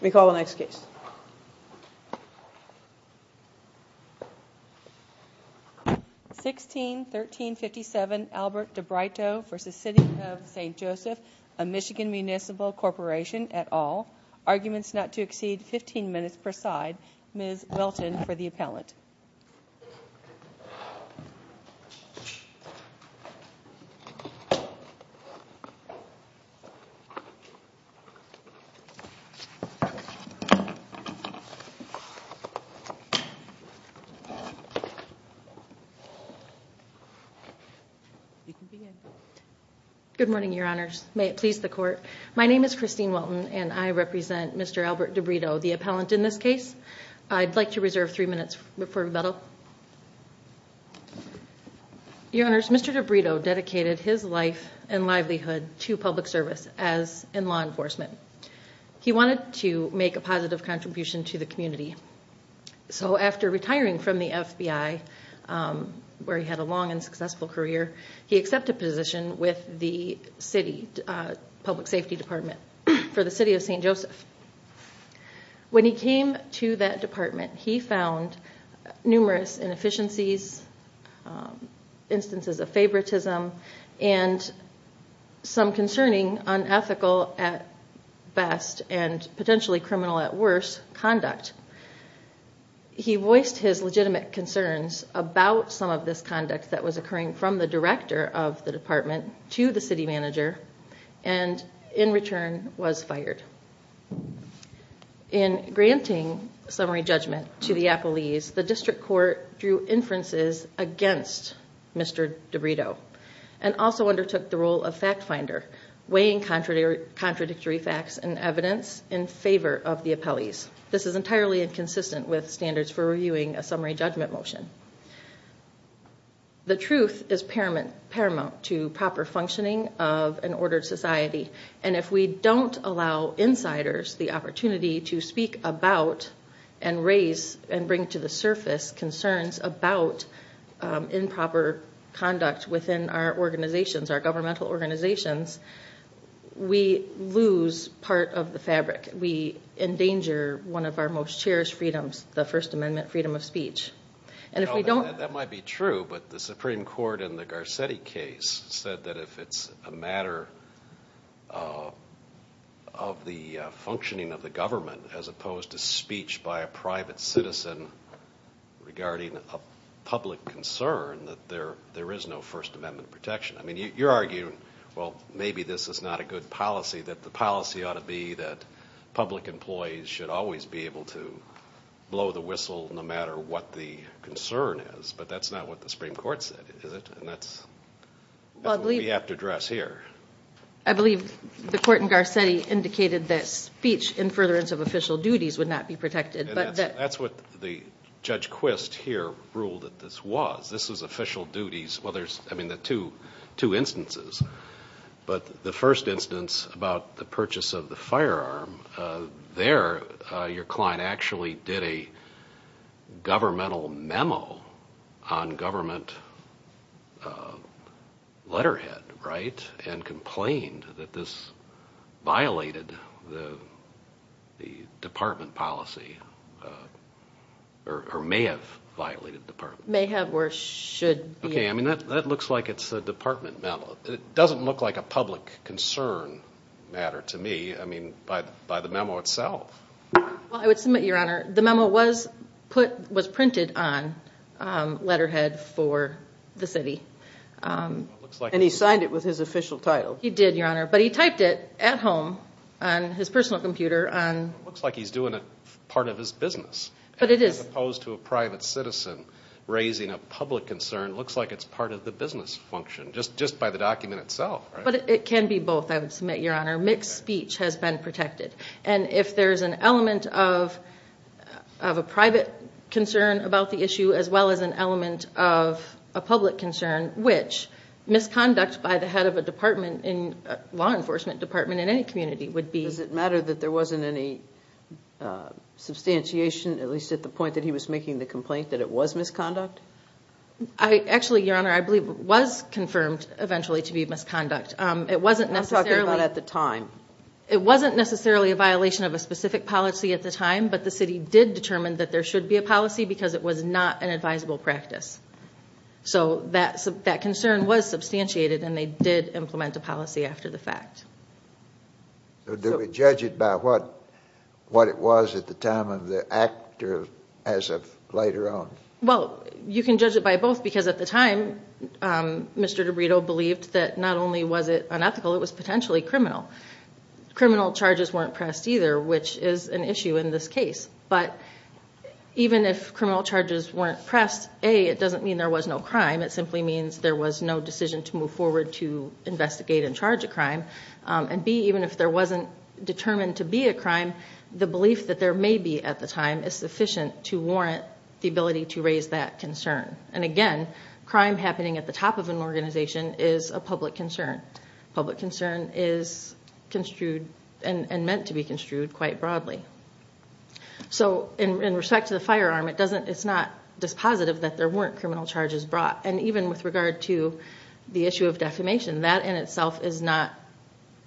We call the next case. 16-1357 Albert DiBrito v. City of St Joseph, a Michigan Municipal Corporation, et al. Arguments not to exceed 15 minutes per side. Ms. Welton for the appellant. Good morning, Your Honors. May it please the Court. My name is Christine Welton and I represent Mr. Albert DiBrito, the appellant in this case. I'd like to reserve three minutes for rebuttal. Your Honors, Mr. DiBrito dedicated his life and livelihood to public service, as in law enforcement. He wanted to make a positive contribution to the community. So after retiring from the FBI, where he had a long and successful career, he accepted a position with the City Public Safety Department for the City of St. Joseph. When he came to that department, he found numerous inefficiencies, instances of favoritism, and some concerning unethical at best and potentially criminal at worst conduct. He voiced his legitimate concerns about some of this conduct that was occurring from the director of the department to the city manager and, in return, was fired. In granting summary judgment to the appellees, the district court drew inferences against Mr. DiBrito and also undertook the role of fact finder, weighing contradictory facts and evidence in favor of the appellees. This is entirely inconsistent with standards for reviewing a summary judgment motion. The truth is paramount to proper functioning of an ordered society, and if we don't allow insiders the opportunity to speak about and raise and bring to the surface concerns about improper conduct within our organizations, our governmental organizations, we lose part of the fabric. We endanger one of our most cherished freedoms, the First Amendment freedom of speech. That might be true, but the Supreme Court in the Garcetti case said that if it's a matter of the functioning of the government as opposed to speech by a private citizen regarding a public concern, that there is no First Amendment protection. I mean, you're arguing, well, maybe this is not a good policy, that the policy ought to be that public employees should always be able to blow the whistle no matter what the concern is. But that's not what the Supreme Court said, is it? And that's what we have to address here. I believe the court in Garcetti indicated that speech in furtherance of official duties would not be protected. That's what Judge Quist here ruled that this was. This is official duties. Well, there's, I mean, the two instances. But the first instance about the purchase of the firearm, there your client actually did a governmental memo on government letterhead, right? And complained that this violated the department policy, or may have violated the department. Okay, I mean, that looks like it's a department memo. It doesn't look like a public concern matter to me, I mean, by the memo itself. Well, I would submit, Your Honor, the memo was printed on letterhead for the city. And he signed it with his official title. He did, Your Honor. But he typed it at home on his personal computer. It looks like he's doing it as part of his business. But it is. As opposed to a private citizen raising a public concern. It looks like it's part of the business function, just by the document itself. But it can be both, I would submit, Your Honor. Mixed speech has been protected. And if there's an element of a private concern about the issue, as well as an element of a public concern, which misconduct by the head of a law enforcement department in any community would be. But does it matter that there wasn't any substantiation, at least at the point that he was making the complaint, that it was misconduct? Actually, Your Honor, I believe it was confirmed eventually to be misconduct. It wasn't necessarily. I'm talking about at the time. It wasn't necessarily a violation of a specific policy at the time, but the city did determine that there should be a policy because it was not an advisable practice. So that concern was substantiated, and they did implement a policy after the fact. So do we judge it by what it was at the time of the act, or as of later on? Well, you can judge it by both because at the time, Mr. DiBrito believed that not only was it unethical, it was potentially criminal. Criminal charges weren't pressed either, which is an issue in this case. But even if criminal charges weren't pressed, A, it doesn't mean there was no crime. It simply means there was no decision to move forward to investigate and charge a crime. And, B, even if there wasn't determined to be a crime, the belief that there may be at the time is sufficient to warrant the ability to raise that concern. And, again, crime happening at the top of an organization is a public concern. Public concern is construed and meant to be construed quite broadly. So in respect to the firearm, it's not dispositive that there weren't criminal charges brought. And even with regard to the issue of defamation, that in itself is not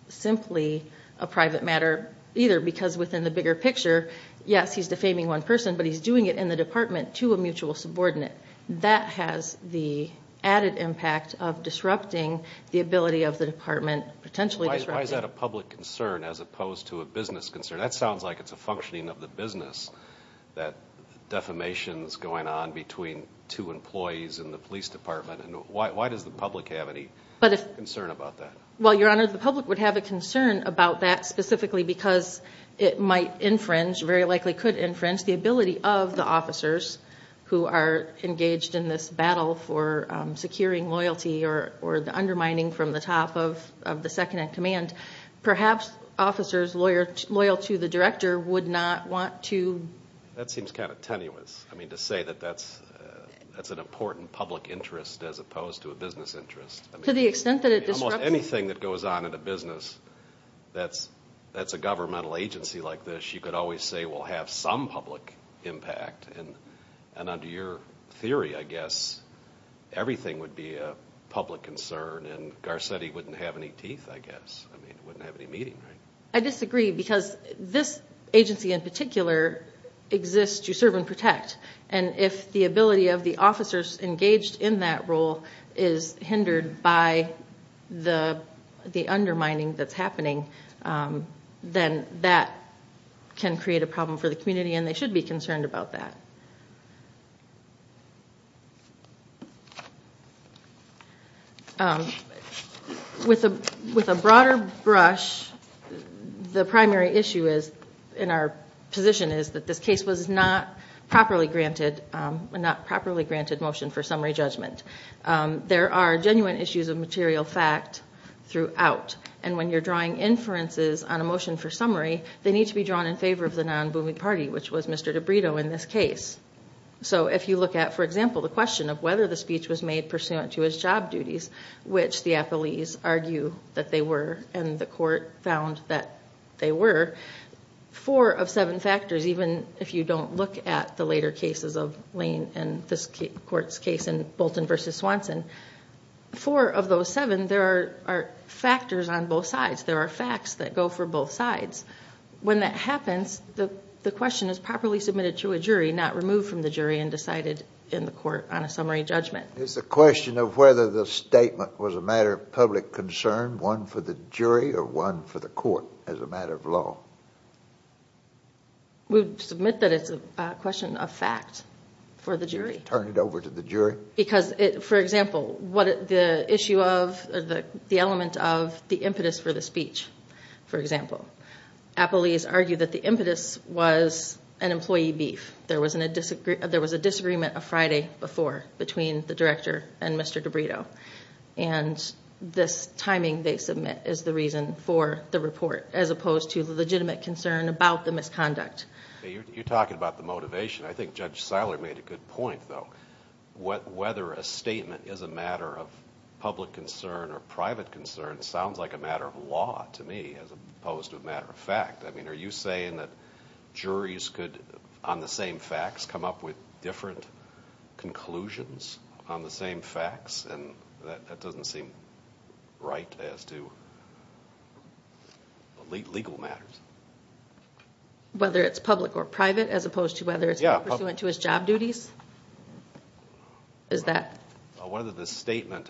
simply a private matter either because within the bigger picture, yes, he's defaming one person, but he's doing it in the department to a mutual subordinate. That has the added impact of disrupting the ability of the department, potentially disrupting. Why is that a public concern as opposed to a business concern? That sounds like it's a functioning of the business, that defamation is going on between two employees in the police department. Why does the public have any concern about that? Well, Your Honor, the public would have a concern about that specifically because it might infringe, very likely could infringe, the ability of the officers who are engaged in this battle for securing loyalty or undermining from the top of the second in command. Perhaps officers loyal to the director would not want to... That seems kind of tenuous, to say that that's an important public interest as opposed to a business interest. To the extent that it disrupts... Almost anything that goes on in a business that's a governmental agency like this, you could always say will have some public impact. And under your theory, I guess, everything would be a public concern and Garcetti wouldn't have any teeth, I guess. I mean, wouldn't have any meaning, right? I disagree because this agency in particular exists to serve and protect. And if the ability of the officers engaged in that role is hindered by the undermining that's happening, then that can create a problem for the community and they should be concerned about that. With a broader brush, the primary issue in our position is that this case was not properly granted, a not properly granted motion for summary judgment. There are genuine issues of material fact throughout. And when you're drawing inferences on a motion for summary, they need to be drawn in favor of the non-booming party, which was Mr. DiBrito in this case. So if you look at, for example, the question of whether the speech was made pursuant to his job duties, which the appellees argue that they were and the court found that they were, four of seven factors, even if you don't look at the later cases of Lane and this court's case in Bolton v. Swanson, four of those seven, there are factors on both sides. There are facts that go for both sides. When that happens, the question is properly submitted to a jury, not removed from the jury and decided in the court on a summary judgment. Is the question of whether the statement was a matter of public concern, one for the jury, or one for the court as a matter of law? We submit that it's a question of fact for the jury. Turn it over to the jury? Because, for example, the issue of the element of the impetus for the speech, for example. Appellees argue that the impetus was an employee beef. There was a disagreement a Friday before between the director and Mr. DiBrito, and this timing they submit is the reason for the report as opposed to the legitimate concern about the misconduct. You're talking about the motivation. I think Judge Seiler made a good point, though. Whether a statement is a matter of public concern or private concern sounds like a matter of law to me as opposed to a matter of fact. Are you saying that juries could, on the same facts, come up with different conclusions on the same facts? That doesn't seem right as to legal matters. Whether it's public or private as opposed to whether it's pursuant to his job duties? Is that? Well, whether the statement,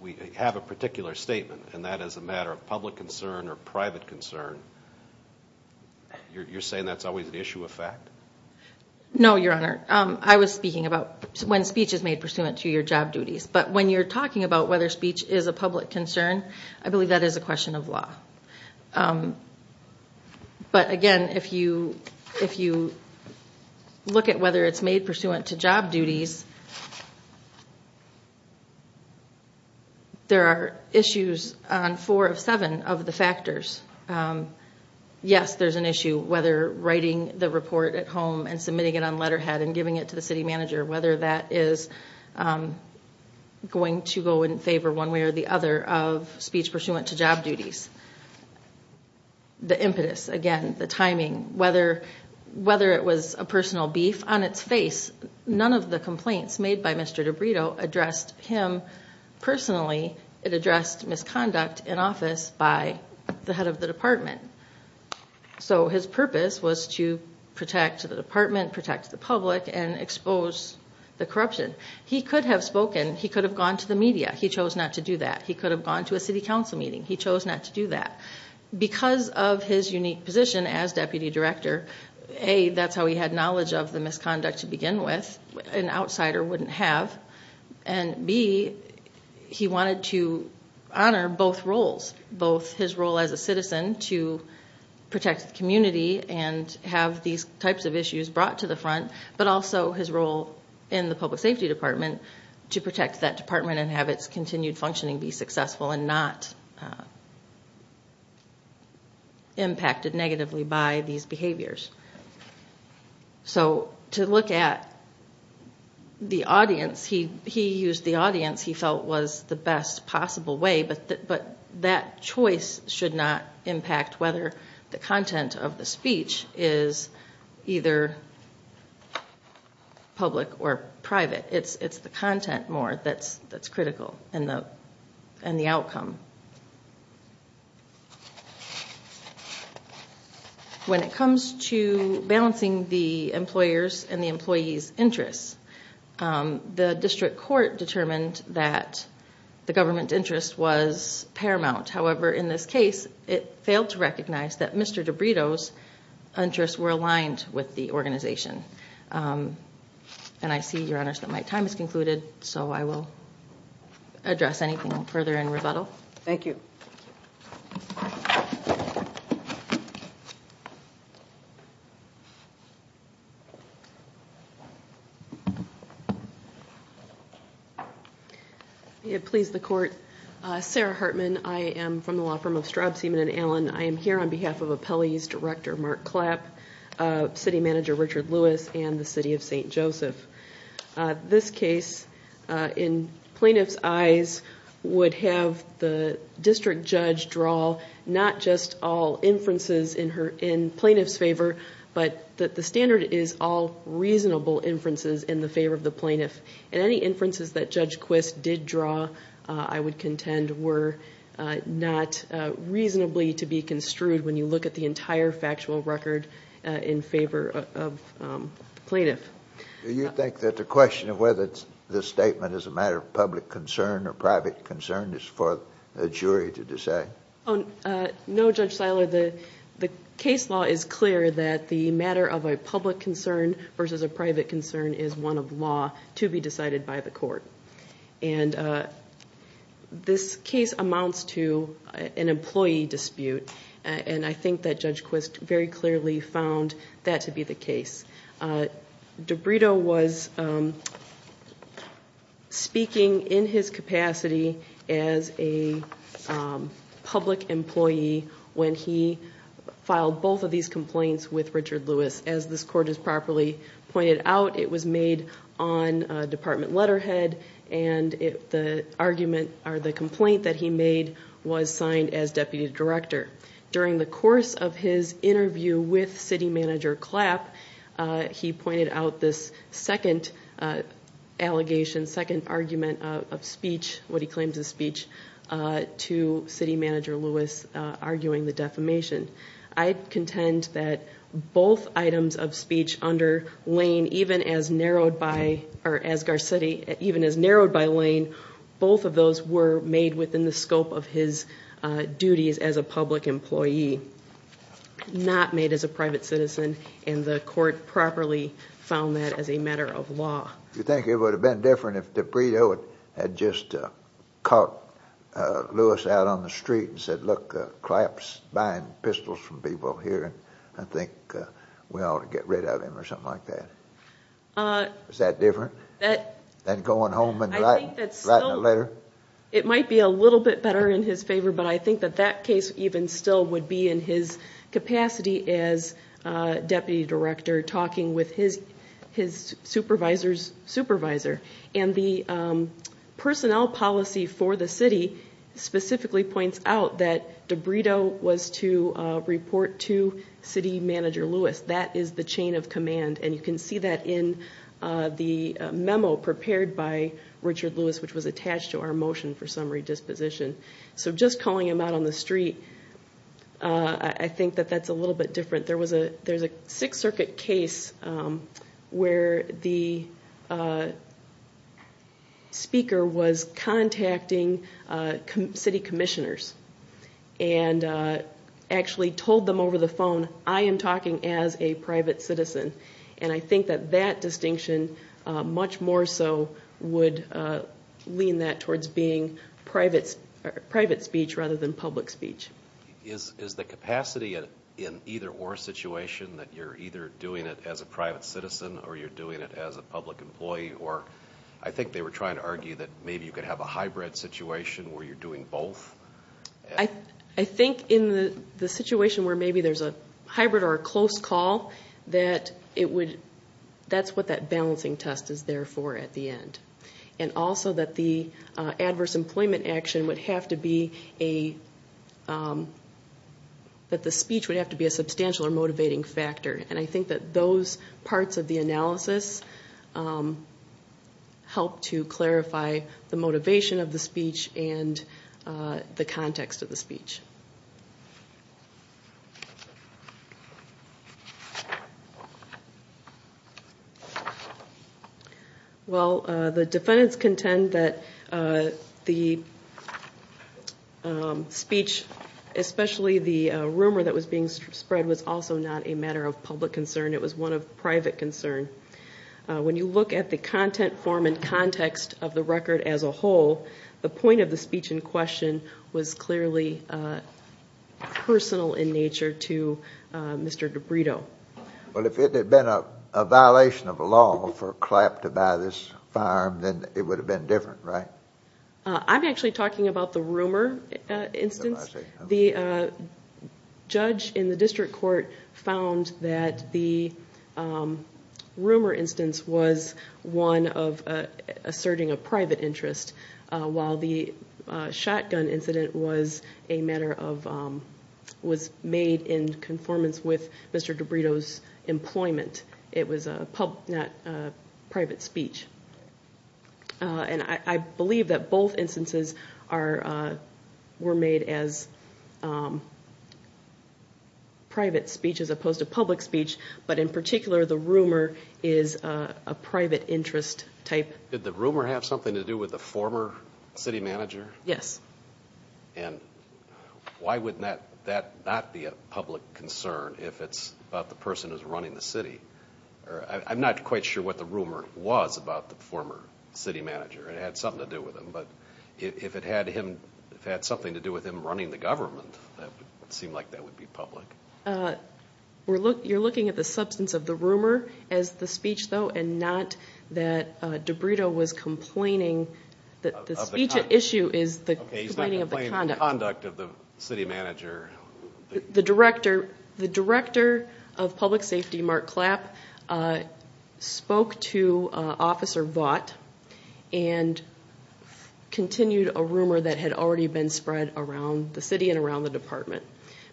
we have a particular statement, and that is a matter of public concern or private concern, you're saying that's always an issue of fact? No, Your Honor. I was speaking about when speech is made pursuant to your job duties. But when you're talking about whether speech is a public concern, I believe that is a question of law. But, again, if you look at whether it's made pursuant to job duties, there are issues on four of seven of the factors. Yes, there's an issue whether writing the report at home and submitting it on letterhead and giving it to the city manager, whether that is going to go in favor one way or the other of speech pursuant to job duties. The impetus, again, the timing, whether it was a personal beef. On its face, none of the complaints made by Mr. DiBrito addressed him personally. It addressed misconduct in office by the head of the department. So his purpose was to protect the department, protect the public, and expose the corruption. He could have spoken. He could have gone to the media. He chose not to do that. He could have gone to a city council meeting. He chose not to do that. Because of his unique position as deputy director, A, that's how he had knowledge of the misconduct to begin with. An outsider wouldn't have. And B, he wanted to honor both roles, both his role as a citizen to protect the community and have these types of issues brought to the front, but also his role in the public safety department to protect that department and have its continued functioning be successful and not impacted negatively by these behaviors. So to look at the audience, he used the audience he felt was the best possible way, but that choice should not impact whether the content of the speech is either public or private. It's the content more that's critical and the outcome. When it comes to balancing the employer's and the employee's interests, the district court determined that the government interest was paramount. However, in this case, it failed to recognize that Mr. DiBrito's interests were aligned with the organization. And I see, Your Honors, that my time has concluded, so I will address anything further in rebuttal. Thank you. May it please the court. Sarah Hartman, I am from the law firm of Straub, Seaman, and Allen. I am here on behalf of Appellees Director Mark Clapp, City Manager Richard Lewis, and the City of St. Joseph. This case, in plaintiff's eyes, would have the district judge draw not just all inferences in plaintiff's favor, but that the standard is all reasonable inferences in the favor of the plaintiff. And any inferences that Judge Quist did draw, I would contend, were not reasonably to be construed when you look at the entire factual record in favor of the plaintiff. Do you think that the question of whether this statement is a matter of public concern or private concern is for the jury to decide? No, Judge Siler. The case law is clear that the matter of a public concern versus a private concern is one of law to be decided by the court. And this case amounts to an employee dispute, and I think that Judge Quist very clearly found that to be the case. DiBrito was speaking in his capacity as a public employee when he filed both of these complaints with Richard Lewis. As this court has properly pointed out, it was made on department letterhead, and the argument or the complaint that he made was signed as deputy director. During the course of his interview with City Manager Clapp, he pointed out this second allegation, second argument of speech, what he claims is speech, to City Manager Lewis arguing the defamation. I contend that both items of speech under Lane, even as narrowed by, or as Garcetti, even as narrowed by Lane, both of those were made within the scope of his duties as a public employee, not made as a private citizen, and the court properly found that as a matter of law. Do you think it would have been different if DiBrito had just caught Lewis out on the street and said, look, Clapp's buying pistols from people here, and I think we ought to get rid of him, or something like that? Is that different than going home and writing a letter? It might be a little bit better in his favor, but I think that that case even still would be in his capacity as deputy director talking with his supervisor's supervisor. And the personnel policy for the city specifically points out that DiBrito was to report to City Manager Lewis. That is the chain of command, and you can see that in the memo prepared by Richard Lewis, which was attached to our motion for summary disposition. So just calling him out on the street, I think that that's a little bit different. There was a Sixth Circuit case where the speaker was contacting city commissioners and actually told them over the phone, I am talking as a private citizen. And I think that that distinction much more so would lean that towards being private speech rather than public speech. Is the capacity in either or situation that you're either doing it as a private citizen or you're doing it as a public employee? I think they were trying to argue that maybe you could have a hybrid situation where you're doing both. I think in the situation where maybe there's a hybrid or a close call, that's what that balancing test is there for at the end. And also that the adverse employment action would have to be a substantial or motivating factor. And I think that those parts of the analysis help to clarify the motivation of the speech and the context of the speech. Well, the defendants contend that the speech, especially the rumor that was being spread, was also not a matter of public concern. It was one of private concern. When you look at the content form and context of the record as a whole, the point of the speech in question was clearly personal in nature to Mr. DiBrito. Well, if it had been a violation of law for Clapp to buy this firearm, then it would have been different, right? I'm actually talking about the rumor instance. The judge in the district court found that the rumor instance was one of asserting a private interest, while the shotgun incident was made in conformance with Mr. DiBrito's employment. It was a private speech. And I believe that both instances were made as private speech as opposed to public speech, but in particular the rumor is a private interest type. Did the rumor have something to do with the former city manager? Yes. And why would that not be a public concern if it's about the person who's running the city? I'm not quite sure what the rumor was about the former city manager. It had something to do with him, but if it had something to do with him running the government, it would seem like that would be public. You're looking at the substance of the rumor as the speech, though, and not that DiBrito was complaining that the speech at issue is the complaining of the conduct. Okay, he's not complaining of the conduct of the city manager. The director of public safety, Mark Clapp, spoke to Officer Vought and continued a rumor that had already been spread around the city and around the department.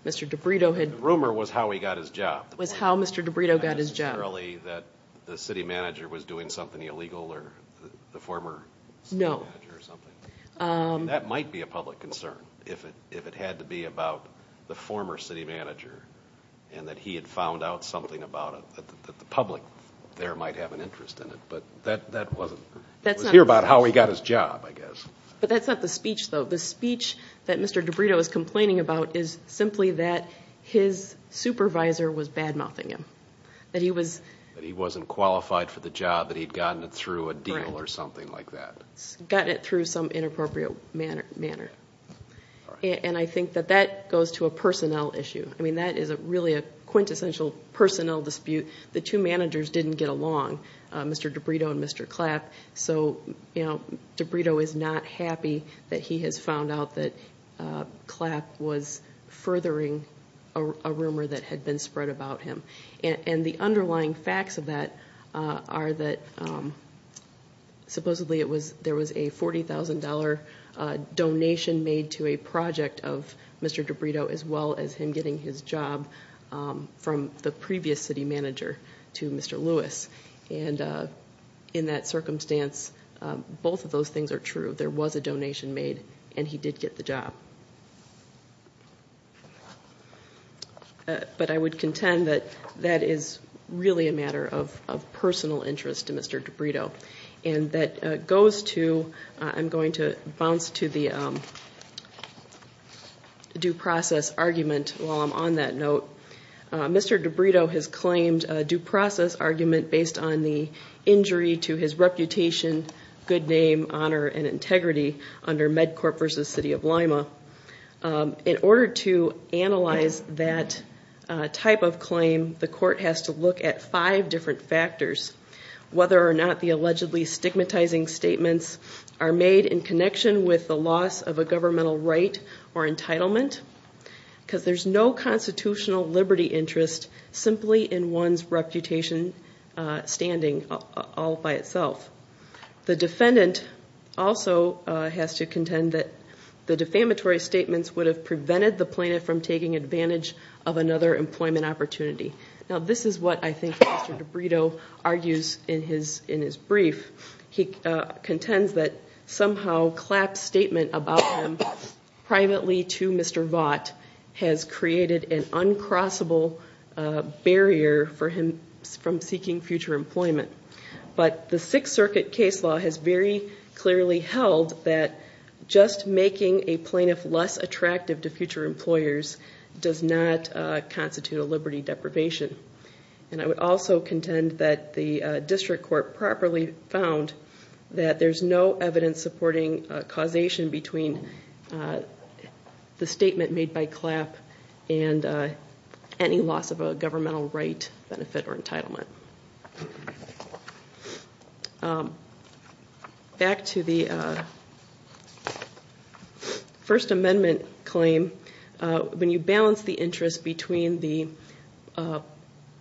The rumor was how he got his job. It was how Mr. DiBrito got his job. Not necessarily that the city manager was doing something illegal or the former city manager or something. No. That might be a public concern if it had to be about the former city manager and that he had found out something about it that the public there might have an interest in it, but that wasn't the case. It was here about how he got his job, I guess. But that's not the speech, though. The speech that Mr. DiBrito is complaining about is simply that his supervisor was badmouthing him, that he wasn't qualified for the job, that he'd gotten it through a deal or something like that. He'd gotten it through some inappropriate manner. And I think that that goes to a personnel issue. That is really a quintessential personnel dispute. The two managers didn't get along, Mr. DiBrito and Mr. Clapp, so DiBrito is not happy that he has found out that Clapp was furthering a rumor that had been spread about him. And the underlying facts of that are that supposedly there was a $40,000 donation made to a project of Mr. DiBrito as well as him getting his job from the previous city manager to Mr. Lewis. And in that circumstance, both of those things are true. There was a donation made and he did get the job. But I would contend that that is really a matter of personal interest to Mr. DiBrito. And that goes to, I'm going to bounce to the due process argument while I'm on that note. Mr. DiBrito has claimed a due process argument based on the injury to his reputation, good name, honor, and integrity under MedCorp versus City of Lima. In order to analyze that type of claim, the court has to look at five different factors, whether or not the allegedly stigmatizing statements are made in connection with the loss of a governmental right or entitlement, because there's no constitutional liberty interest simply in one's reputation standing all by itself. The defendant also has to contend that the defamatory statements would have prevented the plaintiff from taking advantage of another employment opportunity. Now, this is what I think Mr. DiBrito argues in his brief. He contends that somehow Clapp's statement about him privately to Mr. Vaught has created an uncrossable barrier for him from seeking future employment. But the Sixth Circuit case law has very clearly held that just making a plaintiff less attractive to future employers does not constitute a liberty deprivation. And I would also contend that the district court properly found that there's no evidence supporting causation between the statement made by Clapp and any loss of a governmental right, benefit, or entitlement. Back to the First Amendment claim. When you balance the interest between the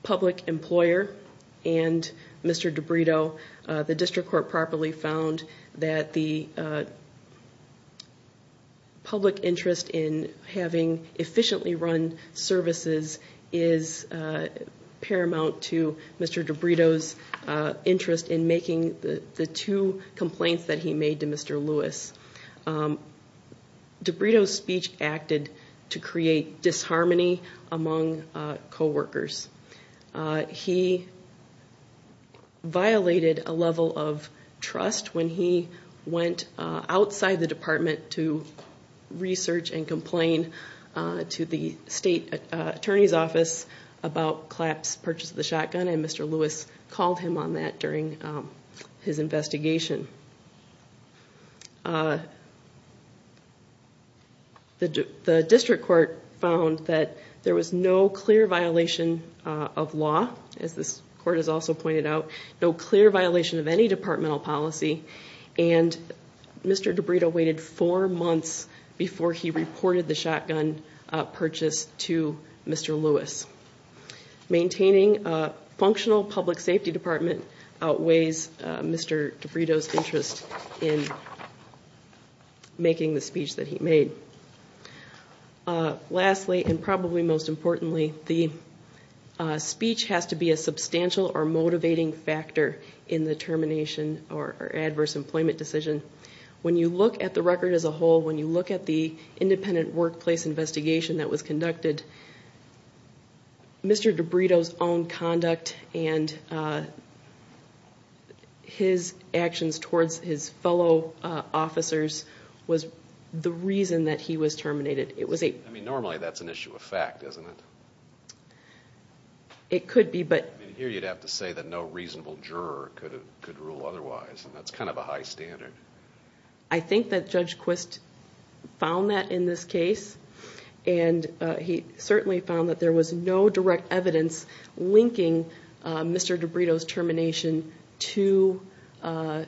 public employer and Mr. DiBrito, the district court properly found that the public interest in having efficiently run services is paramount to Mr. DiBrito's interest in making the two complaints that he made to Mr. Lewis. DiBrito's speech acted to create disharmony among coworkers. He violated a level of trust when he went outside the department to research and complain to the state attorney's office about Clapp's purchase of the shotgun, and Mr. Lewis called him on that during his investigation. The district court found that there was no clear violation of law, as this court has also pointed out, no clear violation of any departmental policy, and Mr. DiBrito waited four months before he reported the shotgun purchase to Mr. Lewis. Maintaining a functional public safety department outweighs Mr. DiBrito's interest in making the speech that he made. Lastly, and probably most importantly, the speech has to be a substantial or motivating factor in the termination or adverse employment decision. When you look at the record as a whole, when you look at the independent workplace investigation that was conducted, Mr. DiBrito's own conduct and his actions towards his fellow officers was the reason that he was terminated. Normally that's an issue of fact, isn't it? It could be, but... I think that Judge Quist found that in this case, and he certainly found that there was no direct evidence linking Mr. DiBrito's termination to the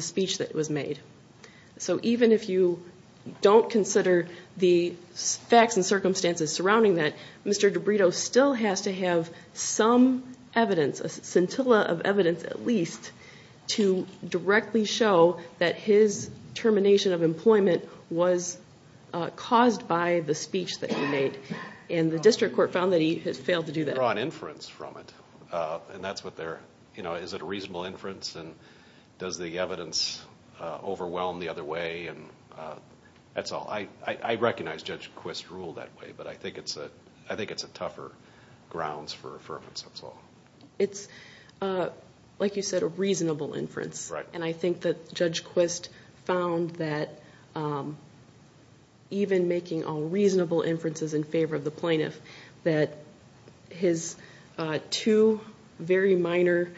speech that was made. So even if you don't consider the facts and circumstances surrounding that, Mr. DiBrito still has to have some evidence, a scintilla of evidence at least, to directly show that his termination of employment was caused by the speech that he made. And the district court found that he has failed to do that. Draw an inference from it, and that's what they're... Is it a reasonable inference, and does the evidence overwhelm the other way, and that's all. I recognize Judge Quist's rule that way, but I think it's a tougher grounds for reference, that's all. It's, like you said, a reasonable inference. And I think that Judge Quist found that even making all reasonable inferences in favor of the plaintiff, that his two very minor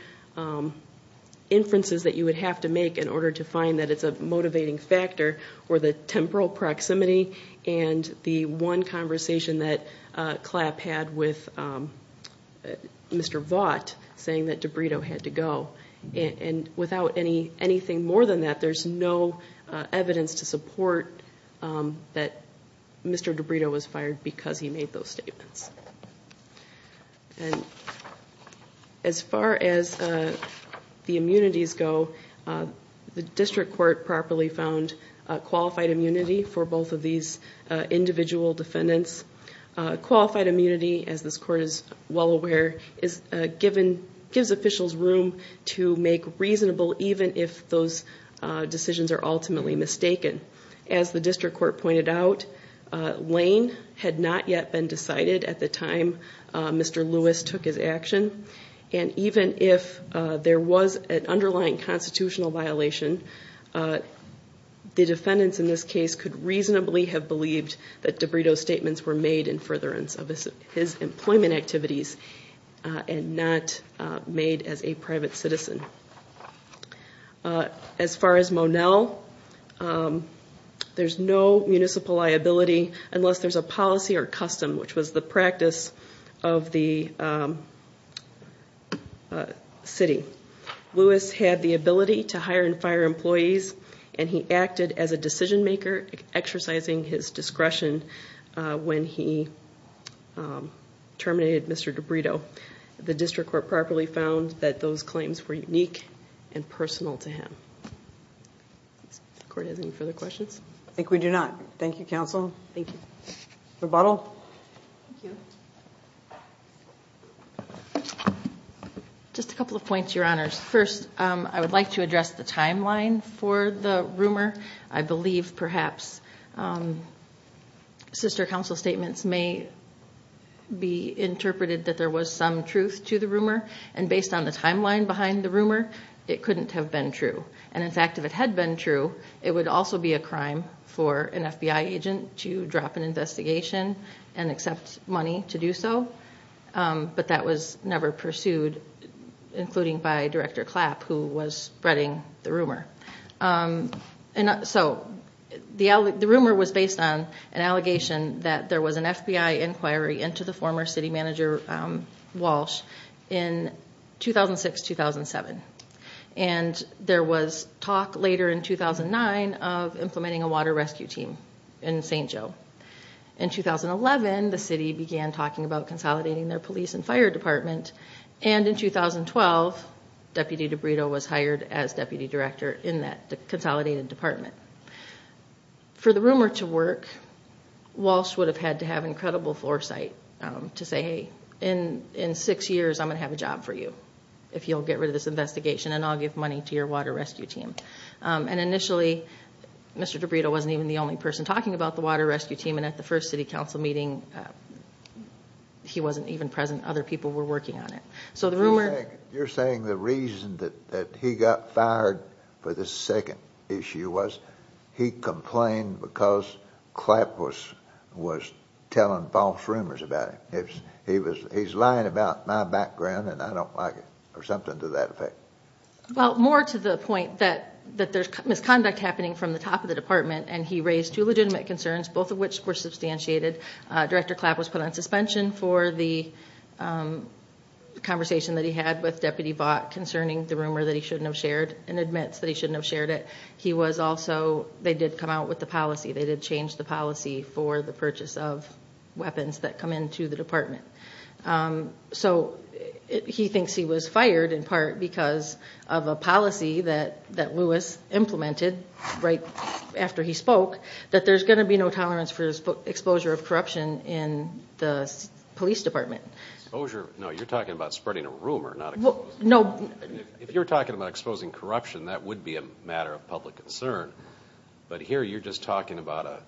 inferences that you would have to make in order to find that it's a motivating factor were the temporal proximity and the one conversation that CLAP had with Mr. Vaught saying that DiBrito had to go. And without anything more than that, there's no evidence to support that Mr. DiBrito was fired because he made those statements. And as far as the immunities go, the district court properly found qualified immunity for both of these individual defendants. Qualified immunity, as this court is well aware, gives officials room to make reasonable, even if those decisions are ultimately mistaken. As the district court pointed out, Lane had not yet been decided at the time Mr. Lewis took his action. And even if there was an underlying constitutional violation, the defendants in this case could reasonably have believed that DiBrito's statements were made in furtherance of his employment activities and not made as a private citizen. As far as Monell, there's no municipal liability unless there's a policy or custom, which was the practice of the city. Lewis had the ability to hire and fire employees and he acted as a decision maker, exercising his discretion when he terminated Mr. DiBrito. The district court properly found that those claims were unique and personal to him. Does the court have any further questions? I think we do not. Thank you, counsel. Thank you. Rebuttal? Thank you. Just a couple of points, your honors. First, I would like to address the timeline for the rumor. I believe perhaps sister counsel's statements may be interpreted that there was some truth to the rumor. And based on the timeline behind the rumor, it couldn't have been true. And in fact, if it had been true, it would also be a crime for an FBI agent to drop an investigation and accept money to do so. But that was never pursued, including by Director Clapp, who was spreading the rumor. So the rumor was based on an allegation that there was an FBI inquiry into the former city manager, Walsh, in 2006-2007. And there was talk later in 2009 of implementing a water rescue team in St. Joe. In 2011, the city began talking about consolidating their police and fire department. And in 2012, Deputy DeBrito was hired as deputy director in that consolidated department. For the rumor to work, Walsh would have had to have incredible foresight to say, hey, in six years I'm going to have a job for you if you'll get rid of this investigation and I'll give money to your water rescue team. And initially, Mr. DeBrito wasn't even the only person talking about the water rescue team. And at the first city council meeting, he wasn't even present. Other people were working on it. You're saying the reason that he got fired for this second issue was he complained because Clapp was telling false rumors about him. He's lying about my background and I don't like it, or something to that effect. Well, more to the point that there's misconduct happening from the top of the department, and he raised two legitimate concerns, both of which were substantiated. Director Clapp was put on suspension for the conversation that he had with Deputy Vaught concerning the rumor that he shouldn't have shared and admits that he shouldn't have shared it. He was also, they did come out with the policy, they did change the policy for the purchase of weapons that come into the department. So he thinks he was fired in part because of a policy that Lewis implemented right after he spoke that there's going to be no tolerance for exposure of corruption in the police department. Exposure? No, you're talking about spreading a rumor, not exposing. If you're talking about exposing corruption, that would be a matter of public concern. But here you're just talking about a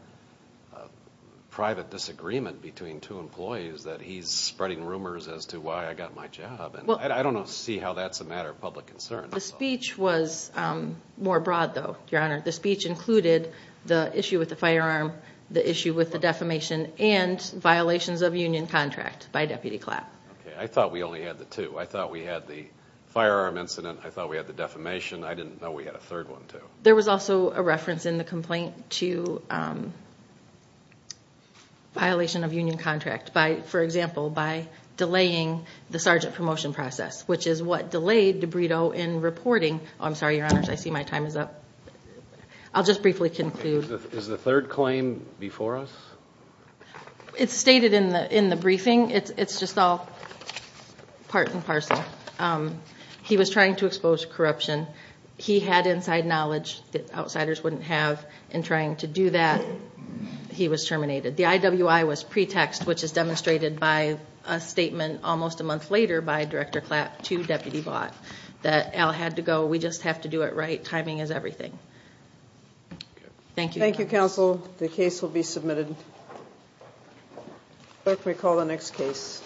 private disagreement between two employees that he's spreading rumors as to why I got my job. I don't see how that's a matter of public concern. The speech was more broad, though, Your Honor. The speech included the issue with the firearm, the issue with the defamation, and violations of union contract by Deputy Clapp. Okay, I thought we only had the two. I thought we had the firearm incident, I thought we had the defamation. I didn't know we had a third one, too. There was also a reference in the complaint to violation of union contract, for example, by delaying the sergeant promotion process, which is what delayed DiBrito in reporting. I'm sorry, Your Honors, I see my time is up. I'll just briefly conclude. Is the third claim before us? It's stated in the briefing. It's just all part and parcel. He was trying to expose corruption. He had inside knowledge that outsiders wouldn't have in trying to do that. He was terminated. The IWI was pretext, which is demonstrated by a statement almost a month later by Director Clapp to Deputy Blatt that Al had to go. We just have to do it right. Timing is everything. Thank you. Thank you, counsel. The case will be submitted. Clerk, we call the next case.